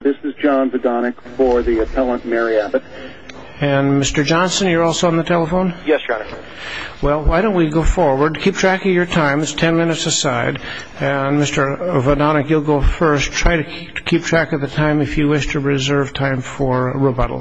This is John Vodonik for the appellant Mary Abbott. And Mr. Johnson, you're also on the telephone? Yes, Your Honor. Well, why don't we go forward. Keep track of your time. It's ten minutes aside. And Mr. Vodonik, you'll go first. Try to keep track of the time if you wish to reserve time for rebuttal.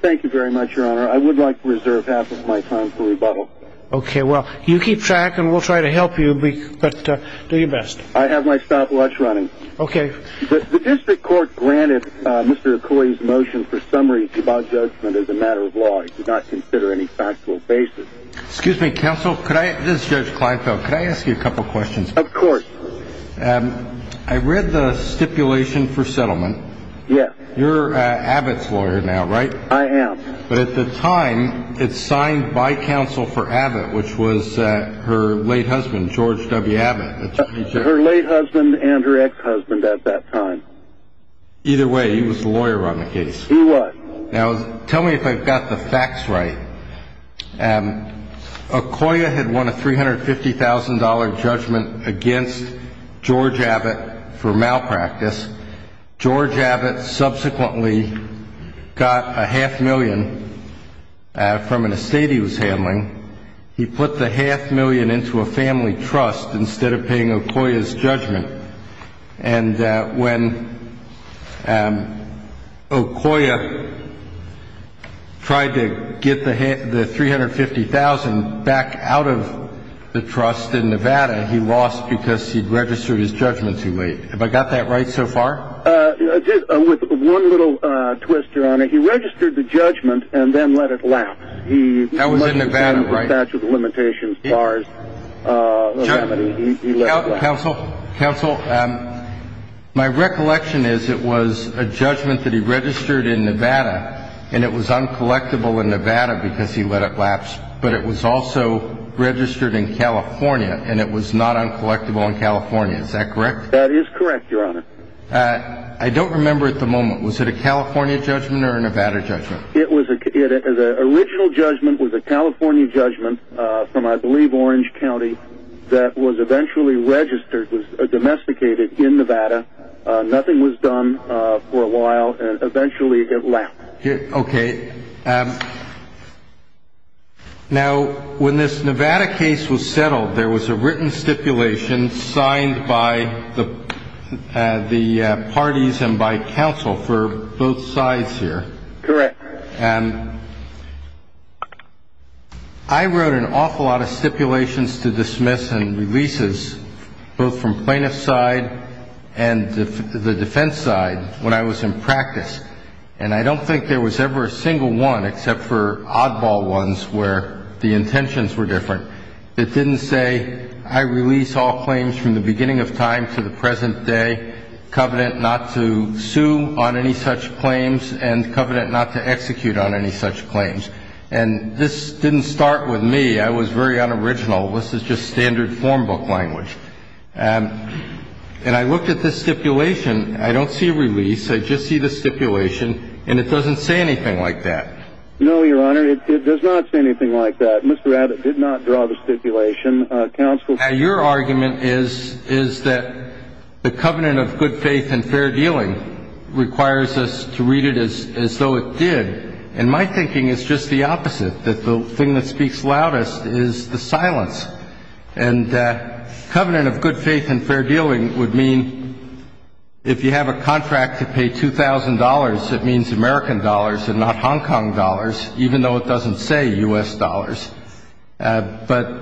Thank you very much, Your Honor. I would like to reserve half of my time for rebuttal. Okay, well, you keep track and we'll try to help you, but do your best. I have my stopwatch running. Okay. The district court granted Mr. Okoye's motion for summaries about judgment as a matter of law. It did not consider any factual basis. Excuse me, counsel. This is Judge Kleinfeld. Could I ask you a couple questions? Of course. I read the stipulation for settlement. Yes. You're Abbott's lawyer now, right? I am. But at the time, it's signed by counsel for Abbott, which was her late husband, George W. Abbott. Her late husband and her ex-husband at that time. Either way, he was the lawyer on the case. He was. Now, tell me if I've got the facts right. Okoye had won a $350,000 judgment against George Abbott for malpractice. George Abbott subsequently got a half million from an estate he was handling. He put the half million into a family trust instead of paying Okoye's judgment. And when Okoye tried to get the $350,000 back out of the trust in Nevada, he lost because he'd registered his judgment too late. Have I got that right so far? With one little twister on it. He registered the judgment and then let it lapse. That was in Nevada, right? He was subject to statute of limitations as far as what happened. Counsel, my recollection is it was a judgment that he registered in Nevada, and it was uncollectible in Nevada because he let it lapse. But it was also registered in California, and it was not uncollectible in California. Is that correct? That is correct, Your Honor. I don't remember at the moment. Was it a California judgment or a Nevada judgment? The original judgment was a California judgment from, I believe, Orange County that was eventually registered, was domesticated in Nevada. Nothing was done for a while, and eventually it got lapped. Okay. Now, when this Nevada case was settled, there was a written stipulation signed by the parties and by counsel for both sides here. Correct. I wrote an awful lot of stipulations to dismiss and releases, both from plaintiff's side and the defense side, when I was in practice. And I don't think there was ever a single one, except for oddball ones where the intentions were different, that didn't say I release all claims from the beginning of time to the present day, covenant not to sue on any such claims, and covenant not to execute on any such claims. And this didn't start with me. I was very unoriginal. This is just standard form book language. And I looked at this stipulation. I don't see release. I just see the stipulation, and it doesn't say anything like that. No, Your Honor, it does not say anything like that. Mr. Abbott did not draw the stipulation. Your argument is that the covenant of good faith and fair dealing requires us to read it as though it did. And my thinking is just the opposite, that the thing that speaks loudest is the silence. And covenant of good faith and fair dealing would mean if you have a contract to pay $2,000, it means American dollars and not Hong Kong dollars, even though it doesn't say U.S. dollars. But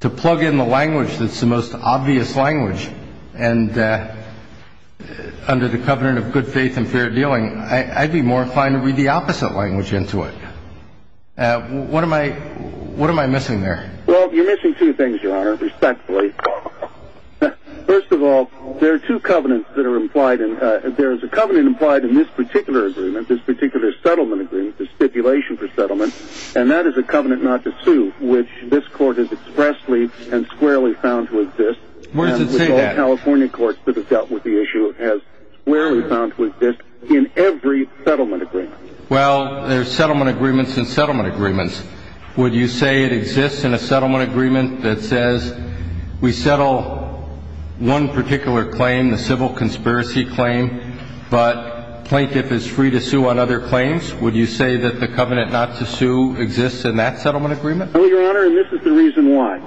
to plug in the language that's the most obvious language, and under the covenant of good faith and fair dealing, I'd be more inclined to read the opposite language into it. What am I missing there? Well, you're missing two things, Your Honor, respectfully. First of all, there are two covenants that are implied. There is a covenant implied in this particular agreement, this particular settlement agreement, the stipulation for settlement, and that is a covenant not to sue, which this Court has expressly and squarely found to exist. Where does it say that? All California courts that have dealt with the issue have squarely found to exist in every settlement agreement. Well, there are settlement agreements and settlement agreements. Would you say it exists in a settlement agreement that says we settle one particular claim, the civil conspiracy claim, but the plaintiff is free to sue on other claims? Would you say that the covenant not to sue exists in that settlement agreement? No, Your Honor, and this is the reason why.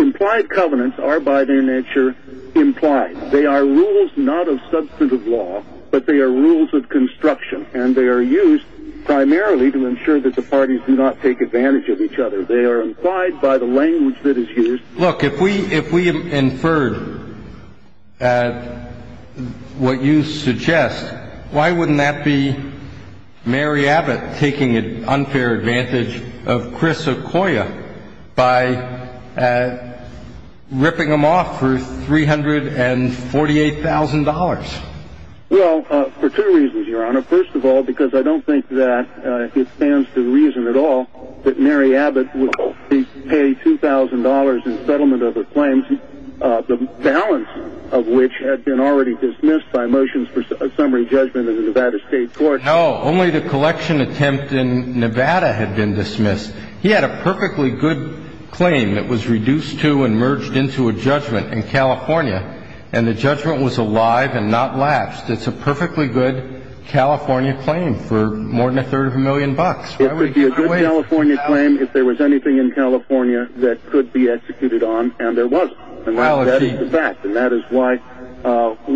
Implied covenants are by their nature implied. They are rules not of substantive law, but they are rules of construction, and they are used primarily to ensure that the parties do not take advantage of each other. They are implied by the language that is used. Look, if we inferred what you suggest, why wouldn't that be Mary Abbott taking unfair advantage of Chris Okoye by ripping him off for $348,000? Well, for two reasons, Your Honor. First of all, because I don't think that it stands to reason at all that Mary Abbott would pay $2,000 in settlement of the claims, the balance of which had been already dismissed by motions for summary judgment in the Nevada State Court. No, only the collection attempt in Nevada had been dismissed. He had a perfectly good claim that was reduced to and merged into a judgment in California, and the judgment was alive and not lapsed. It's a perfectly good California claim for more than a third of a million bucks. It would be a good California claim if there was anything in California that could be executed on, and there wasn't. And that is the fact, and that is why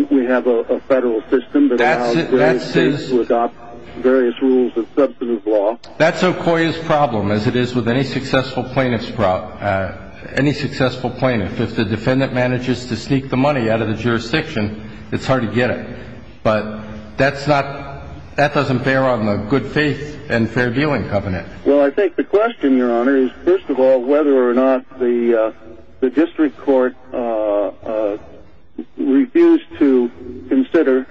we have a federal system that allows various states to adopt various rules of substantive law. That's Okoye's problem, as it is with any successful plaintiff. Any successful plaintiff. If the defendant manages to sneak the money out of the jurisdiction, it's hard to get it. But that doesn't bear on the good faith and fair dealing covenant. Well, I think the question, Your Honor, is first of all whether or not the district court refused to consider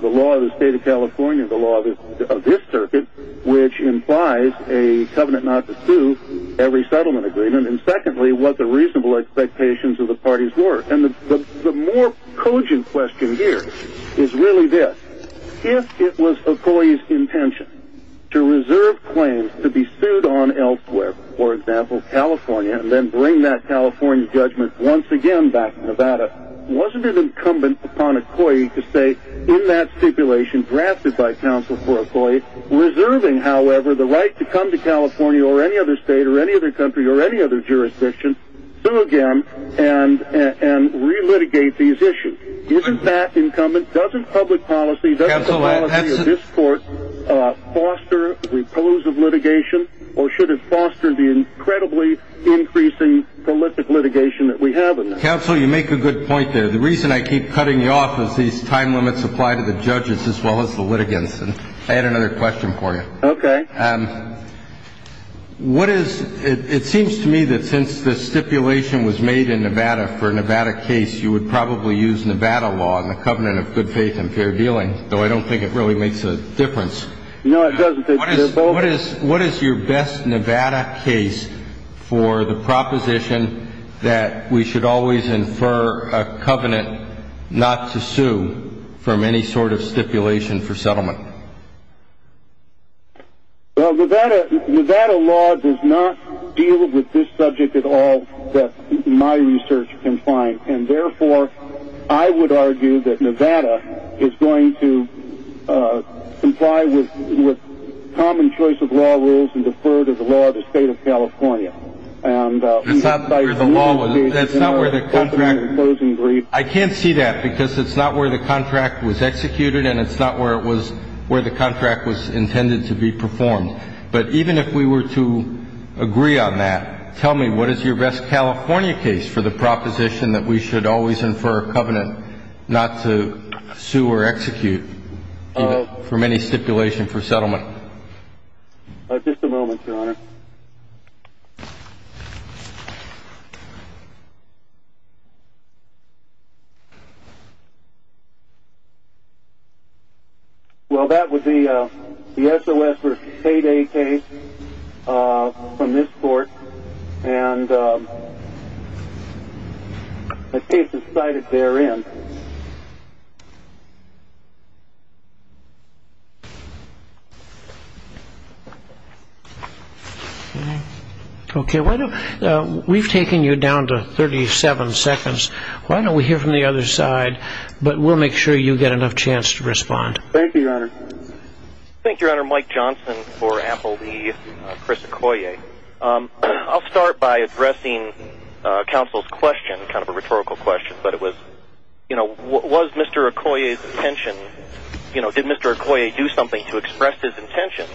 the law of the state of California, the law of this circuit, which implies a covenant not to sue every settlement agreement, and secondly, what the reasonable expectations of the parties were. And the more cogent question here is really this. If it was Okoye's intention to reserve claims to be sued on elsewhere, for example, California, and then bring that California judgment once again back to Nevada, wasn't it incumbent upon Okoye to say, in that stipulation drafted by counsel for Okoye, reserving, however, the right to come to California or any other state or any other country or any other jurisdiction, sue again and re-litigate these issues? Isn't that incumbent? Doesn't public policy, doesn't the policy of this court foster repulsive litigation? Or should it foster the incredibly increasing prolific litigation that we have in Nevada? Counsel, you make a good point there. The reason I keep cutting you off is these time limits apply to the judges as well as the litigants. I had another question for you. Okay. It seems to me that since this stipulation was made in Nevada for a Nevada case, you would probably use Nevada law in the covenant of good faith and fair dealing, though I don't think it really makes a difference. No, it doesn't. What is your best Nevada case for the proposition that we should always infer a covenant not to sue from any sort of stipulation for settlement? Well, Nevada law does not deal with this subject at all that my research can find, and, therefore, I would argue that Nevada is going to comply with common choice of law rules and defer to the law of the state of California. That's not where the contract was executed and it's not where the contract was intended to be performed. But even if we were to agree on that, tell me what is your best California case for the proposition that we should always infer a covenant not to sue or execute from any stipulation for settlement? Well, that would be the SOS versus payday case from this court, and the case is cited therein. Okay. We've taken you down to 37 seconds. Why don't we hear from the other side, but we'll make sure you get enough chance to respond. Thank you, Your Honor. Thank you, Your Honor. Mike Johnson for Applebee's. Chris Akoya. I'll start by addressing counsel's question, kind of a rhetorical question, but it was, you know, was Mr. Akoya's intention, you know, did Mr. Akoya do something to express his intention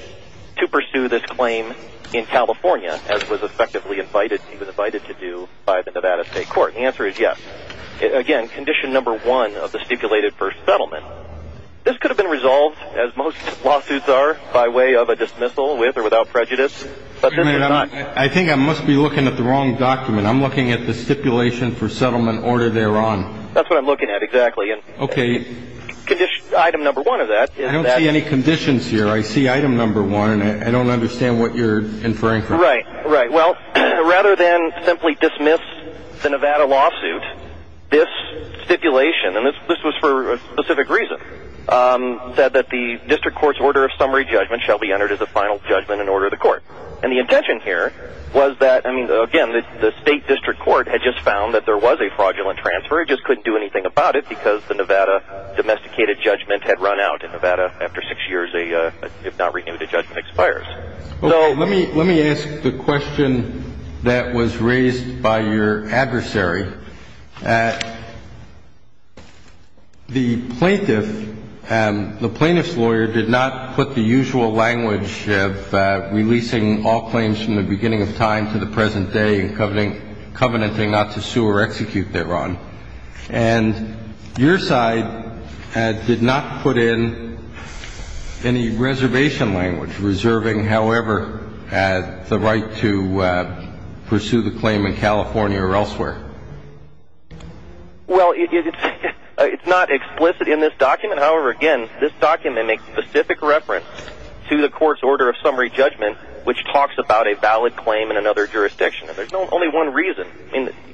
to pursue this claim in California as was effectively invited to do by the Nevada State Court? The answer is yes. Again, condition number one of the stipulated first settlement, this could have been resolved as most lawsuits are by way of a dismissal with or without prejudice, but this is not. I think I must be looking at the wrong document. I'm looking at the stipulation for settlement order thereon. That's what I'm looking at, exactly. Okay. Item number one of that. I don't see any conditions here. I see item number one. I don't understand what you're inferring from. Right, right. Well, rather than simply dismiss the Nevada lawsuit, this stipulation, and this was for a specific reason, said that the district court's order of summary judgment shall be entered as a final judgment in order of the court. And the intention here was that, I mean, again, the state district court had just found that there was a fraudulent transfer. It just couldn't do anything about it because the Nevada domesticated judgment had run out in Nevada after six years, if not renewed, the judgment expires. Let me ask the question that was raised by your adversary. The plaintiff, the plaintiff's lawyer did not put the usual language of releasing all claims from the beginning of time to the present day and covenanting not to sue or execute thereon. And your side did not put in any reservation language, reserving, however, the right to pursue the claim in California or elsewhere. Well, it's not explicit in this document. However, again, this document makes specific reference to the court's order of summary judgment, which talks about a valid claim in another jurisdiction. And there's only one reason.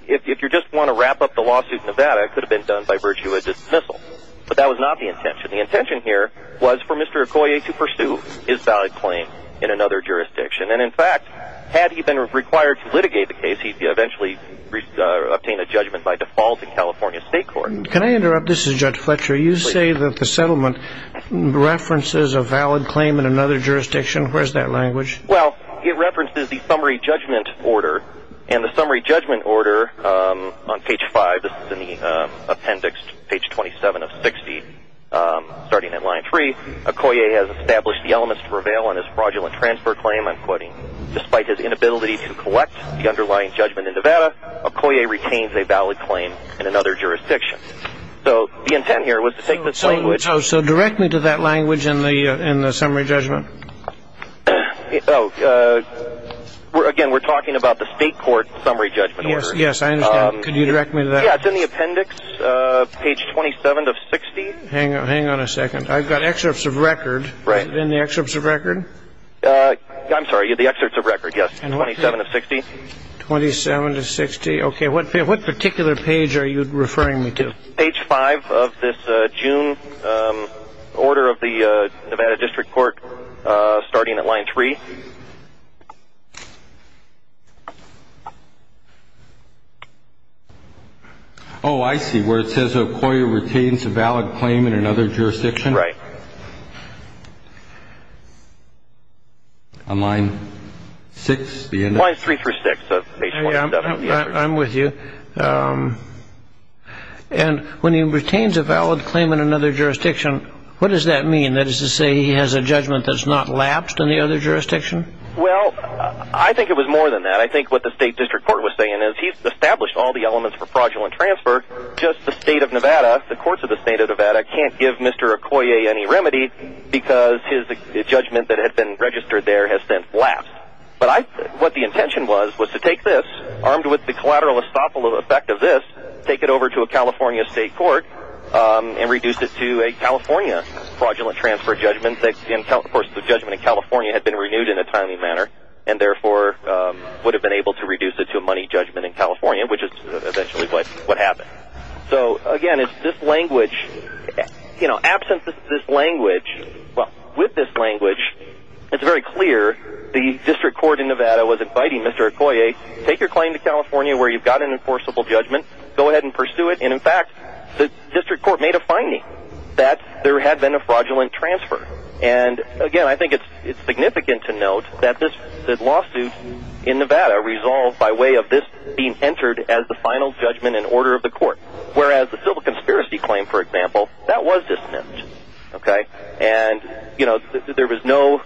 If you just want to wrap up the lawsuit in Nevada, it could have been done by virtue of dismissal. But that was not the intention. The intention here was for Mr. Akoye to pursue his valid claim in another jurisdiction. And in fact, had he been required to litigate the case, he could eventually obtain a judgment by default in California state court. Can I interrupt? This is Judge Fletcher. You say that the settlement references a valid claim in another jurisdiction. Where's that language? Well, it references the summary judgment order. And the summary judgment order on page five, this is in the appendix, page 27 of 60, starting at line three, Akoye has established the elements to prevail on his fraudulent transfer claim. I'm quoting, despite his inability to collect the underlying judgment in Nevada, Akoye retains a valid claim in another jurisdiction. So the intent here was to take the language. So direct me to that language in the summary judgment. Oh, again, we're talking about the state court summary judgment order. Yes, yes, I understand. Can you direct me to that? Yeah, it's in the appendix, page 27 of 60. Hang on, hang on a second. I've got excerpts of record. Right. In the excerpts of record? I'm sorry, the excerpts of record, yes. 27 of 60. 27 of 60. OK, what particular page are you referring me to? Page five of this June order of the Nevada District Court, starting at line three. Oh, I see, where it says Akoye retains a valid claim in another jurisdiction. Right. On line six? Line three through six of page 27. I'm with you. And when he retains a valid claim in another jurisdiction, what does that mean? That is to say he has a judgment that's not lapsed in the other jurisdiction? Well, I think it was more than that. I think what the state district court was saying is he's established all the elements for fraudulent transfer. Just the state of Nevada, the courts of the state of Nevada can't give Mr. Akoye any remedy because his judgment that had been registered there has since lapsed. But what the intention was was to take this, armed with the collateral estoppel effect of this, take it over to a California state court and reduce it to a California fraudulent transfer judgment. Of course, the judgment in California had been renewed in a timely manner and therefore would have been able to reduce it to a money judgment in California, which is essentially what happened. So, again, it's this language. You know, absent this language, well, with this language, it's very clear the district court in Nevada was inviting Mr. Akoye, take your claim to California where you've got an enforceable judgment, go ahead and pursue it. And, in fact, the district court made a finding that there had been a fraudulent transfer. And, again, I think it's significant to note that this lawsuit in Nevada was resolved by way of this being entered as the final judgment in order of the court. Whereas the civil conspiracy claim, for example, that was dismissed. And, you know, there was no,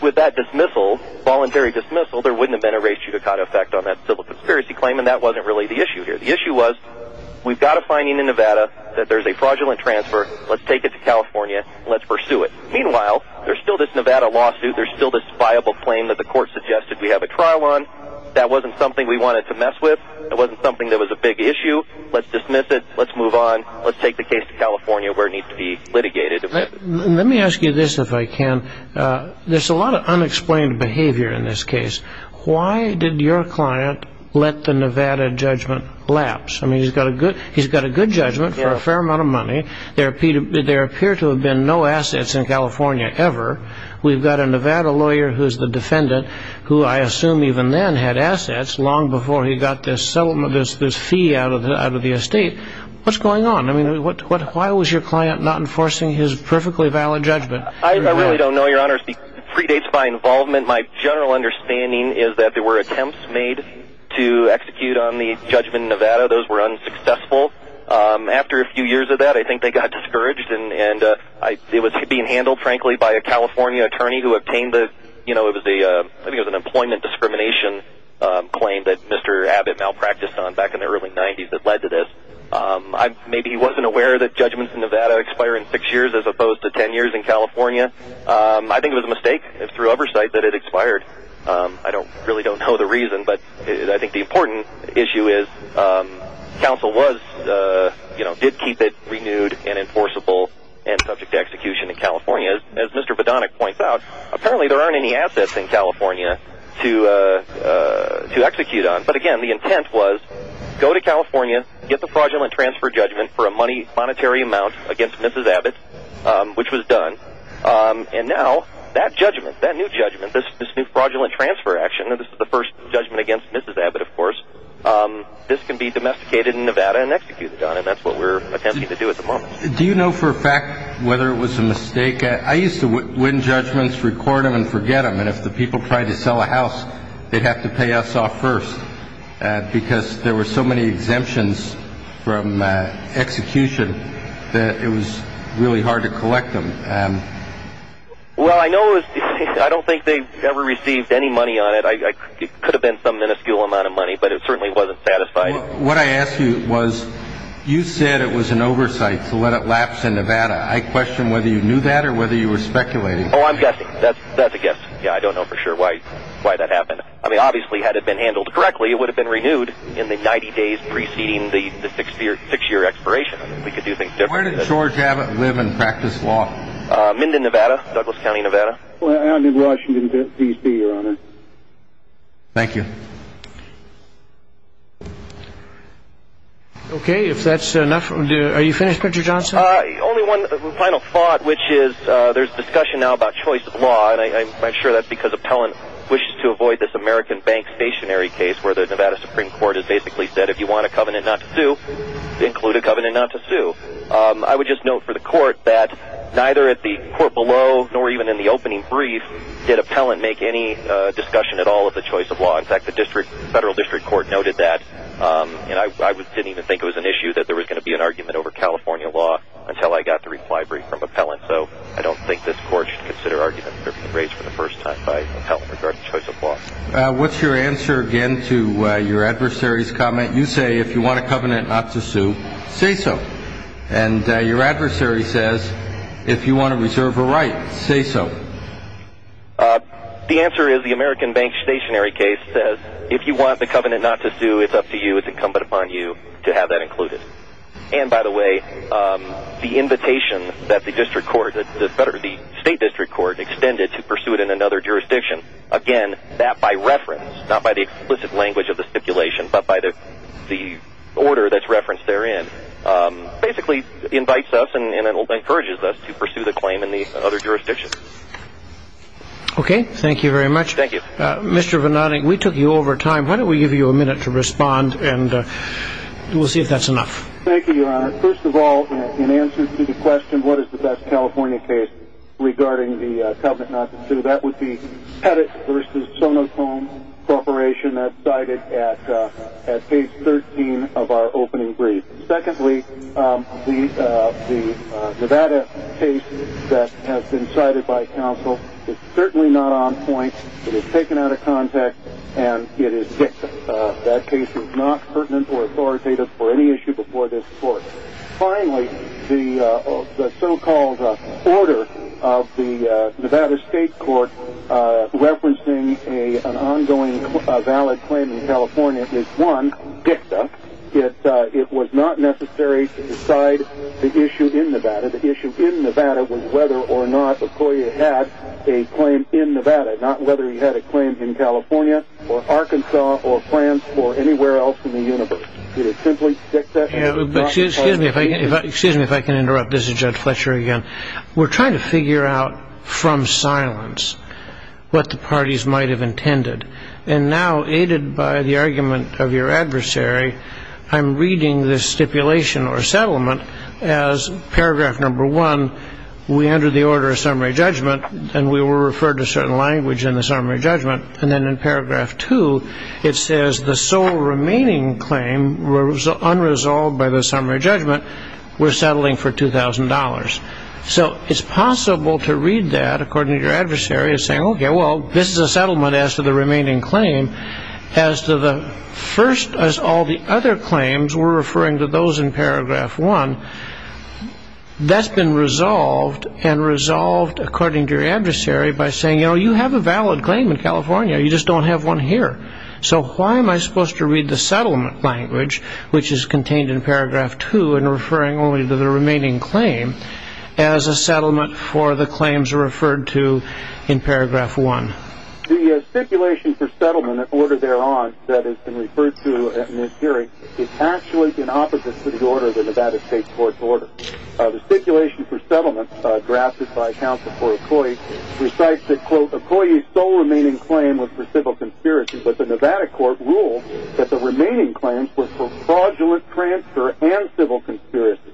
with that dismissal, voluntary dismissal, there wouldn't have been a race judicata effect on that civil conspiracy claim and that wasn't really the issue here. The issue was we've got a finding in Nevada that there's a fraudulent transfer, let's take it to California, let's pursue it. Meanwhile, there's still this Nevada lawsuit, there's still this viable claim that the court suggested we have a trial on. That wasn't something we wanted to mess with. That wasn't something that was a big issue. Let's dismiss it. Let's move on. Let's take the case to California where it needs to be litigated. Let me ask you this, if I can. There's a lot of unexplained behavior in this case. Why did your client let the Nevada judgment lapse? I mean, he's got a good judgment for a fair amount of money. There appear to have been no assets in California ever. We've got a Nevada lawyer who's the defendant, who I assume even then had assets long before he got this fee out of the estate. What's going on? I mean, why was your client not enforcing his perfectly valid judgment? I really don't know, Your Honor. It predates my involvement. My general understanding is that there were attempts made to execute on the judgment in Nevada. Those were unsuccessful. After a few years of that, I think they got discouraged and it was being handled, frankly, by a California attorney who obtained an employment discrimination claim that Mr. Abbott malpracticed on back in the early 90s that led to this. Maybe he wasn't aware that judgments in Nevada expire in six years as opposed to ten years in California. I think it was a mistake through oversight that it expired. I really don't know the reason, but I think the important issue is counsel did keep it renewed and enforceable and subject to execution in California. As Mr. Vedonik points out, apparently there aren't any assets in California to execute on. But again, the intent was go to California, get the fraudulent transfer judgment for a monetary amount against Mrs. Abbott, which was done, and now that judgment, that new judgment, this new fraudulent transfer action, the first judgment against Mrs. Abbott, of course, this can be domesticated in Nevada and executed on. That's what we're attempting to do at the moment. Do you know for a fact whether it was a mistake? I used to win judgments, record them, and forget them. If the people tried to sell a house, they'd have to pay us off first because there were so many exemptions from execution that it was really hard to collect them. Well, I don't think they ever received any money on it. It could have been some minuscule amount of money, but it certainly wasn't satisfied. What I asked you was, you said it was an oversight to let it lapse in Nevada. I question whether you knew that or whether you were speculating. Oh, I'm guessing. That's a guess. I don't know for sure why that happened. Obviously, had it been handled correctly, it would have been renewed in the 90 days preceding the six-year expiration. Where did George Abbott live and practice law? Minden, Nevada, Douglas County, Nevada. I live in Washington, D.C., Your Honor. Thank you. Okay, if that's enough, are you finished, Mr. Johnson? Only one final thought, which is there's discussion now about choice of law, and I'm sure that's because Appellant wishes to avoid this American Bank stationary case where the Nevada Supreme Court has basically said if you want a covenant not to sue, include a covenant not to sue. I would just note for the Court that neither at the Court below nor even in the opening brief did Appellant make any discussion at all of the choice of law. In fact, the Federal District Court noted that. I didn't even think it was an issue that there was going to be an argument over California law until I got the reply brief from Appellant, so I don't think this Court should consider arguments being raised for the first time by Appellant regarding choice of law. What's your answer, again, to your adversary's comment? You say if you want a covenant not to sue, say so. And your adversary says if you want to reserve a right, say so. The answer is the American Bank stationary case says if you want the covenant not to sue, it's up to you, it's incumbent upon you to have that included. And, by the way, the invitation that the District Court, the State District Court extended to pursue it in another jurisdiction, again, that by reference, not by the explicit language of the stipulation, but by the order that's referenced therein, basically invites us and encourages us to pursue the claim in the other jurisdictions. Okay. Thank you very much. Thank you. Mr. Vannatic, we took you over time. Why don't we give you a minute to respond, and we'll see if that's enough. Thank you, Your Honor. First of all, in answer to the question, what is the best California case regarding the covenant not to sue, that would be Pettit v. Sonocone Corporation as cited at page 13 of our opening brief. Secondly, the Nevada case that has been cited by counsel is certainly not on point. It is taken out of context, and it is fixed. That case is not pertinent or authoritative for any issue before this Court. Finally, the so-called order of the Nevada State Court referencing an ongoing valid claim in California is, one, dicta. It was not necessary to decide the issue in Nevada. The issue in Nevada was whether or not McCoy had a claim in Nevada, not whether he had a claim in California or Arkansas or France or anywhere else in the universe. Excuse me if I can interrupt. This is Judge Fletcher again. We're trying to figure out from silence what the parties might have intended, and now, aided by the argument of your adversary, I'm reading this stipulation or settlement as paragraph number one, we enter the order of summary judgment, and we were referred to certain language in the summary judgment, and then in paragraph two, it says the sole remaining claim was unresolved by the summary judgment. We're settling for $2,000. So it's possible to read that according to your adversary as saying, okay, well, this is a settlement as to the remaining claim. As to the first, as all the other claims, we're referring to those in paragraph one. That's been resolved, and resolved according to your adversary by saying, you know, you have a valid claim in California. You just don't have one here. So why am I supposed to read the settlement language, which is contained in paragraph two, and referring only to the remaining claim as a settlement for the claims referred to in paragraph one? The stipulation for settlement, the order thereon that has been referred to in this hearing, is actually in opposite to the order of the Nevada State Court's order. The stipulation for settlement drafted by counsel for a ploy recites that, quote, a ploy's sole remaining claim was for civil conspiracy, but the Nevada court ruled that the remaining claims were for fraudulent transfer and civil conspiracy.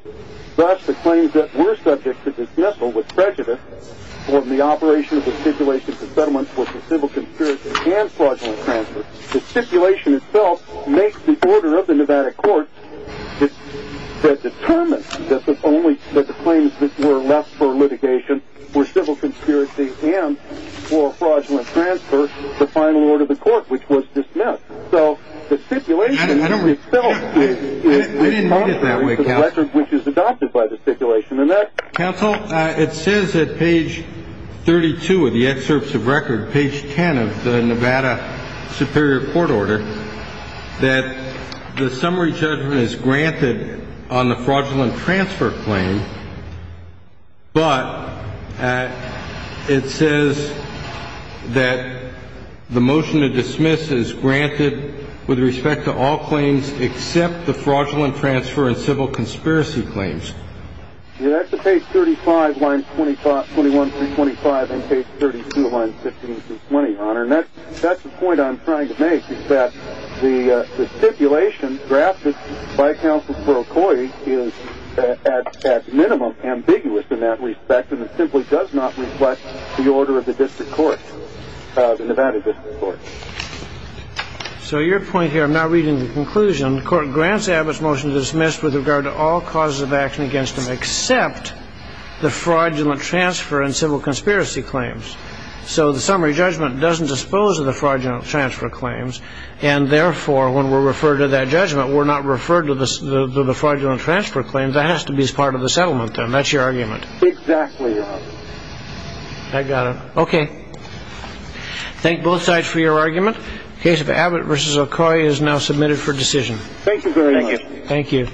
Thus, the claims that were subject to dismissal with prejudice for the operation of the stipulation for settlement were for civil conspiracy and fraudulent transfer. The stipulation itself makes the order of the Nevada court that determines that the claims that were left for litigation were civil conspiracy and for fraudulent transfer the final order of the court, which was dismissed. So the stipulation itself is contrary to the record which is adopted by the stipulation. Counsel, it says at page 32 of the excerpts of record, page 10 of the Nevada superior court order, that the summary judgment is granted on the fraudulent transfer claim, but it says that the motion to dismiss is granted with respect to all claims except the fraudulent transfer and civil conspiracy claims. That's the page 35, line 21 through 25, and page 32, line 15 through 20, Honor. And that's the point I'm trying to make, is that the stipulation drafted by counsel for a ploy is, at minimum, ambiguous in that respect, and it simply does not reflect the order of the district court, the Nevada district court. So your point here, I'm now reading the conclusion. The court grants Abbott's motion to dismiss with regard to all causes of action against him except the fraudulent transfer and civil conspiracy claims. So the summary judgment doesn't dispose of the fraudulent transfer claims, and therefore, when we're referred to that judgment, we're not referred to the fraudulent transfer claims. That has to be part of the settlement then. That's your argument. Exactly, Your Honor. I got it. Okay. Thank both sides for your argument. The case of Abbott v. Okoye is now submitted for decision. Thank you very much. Thank you.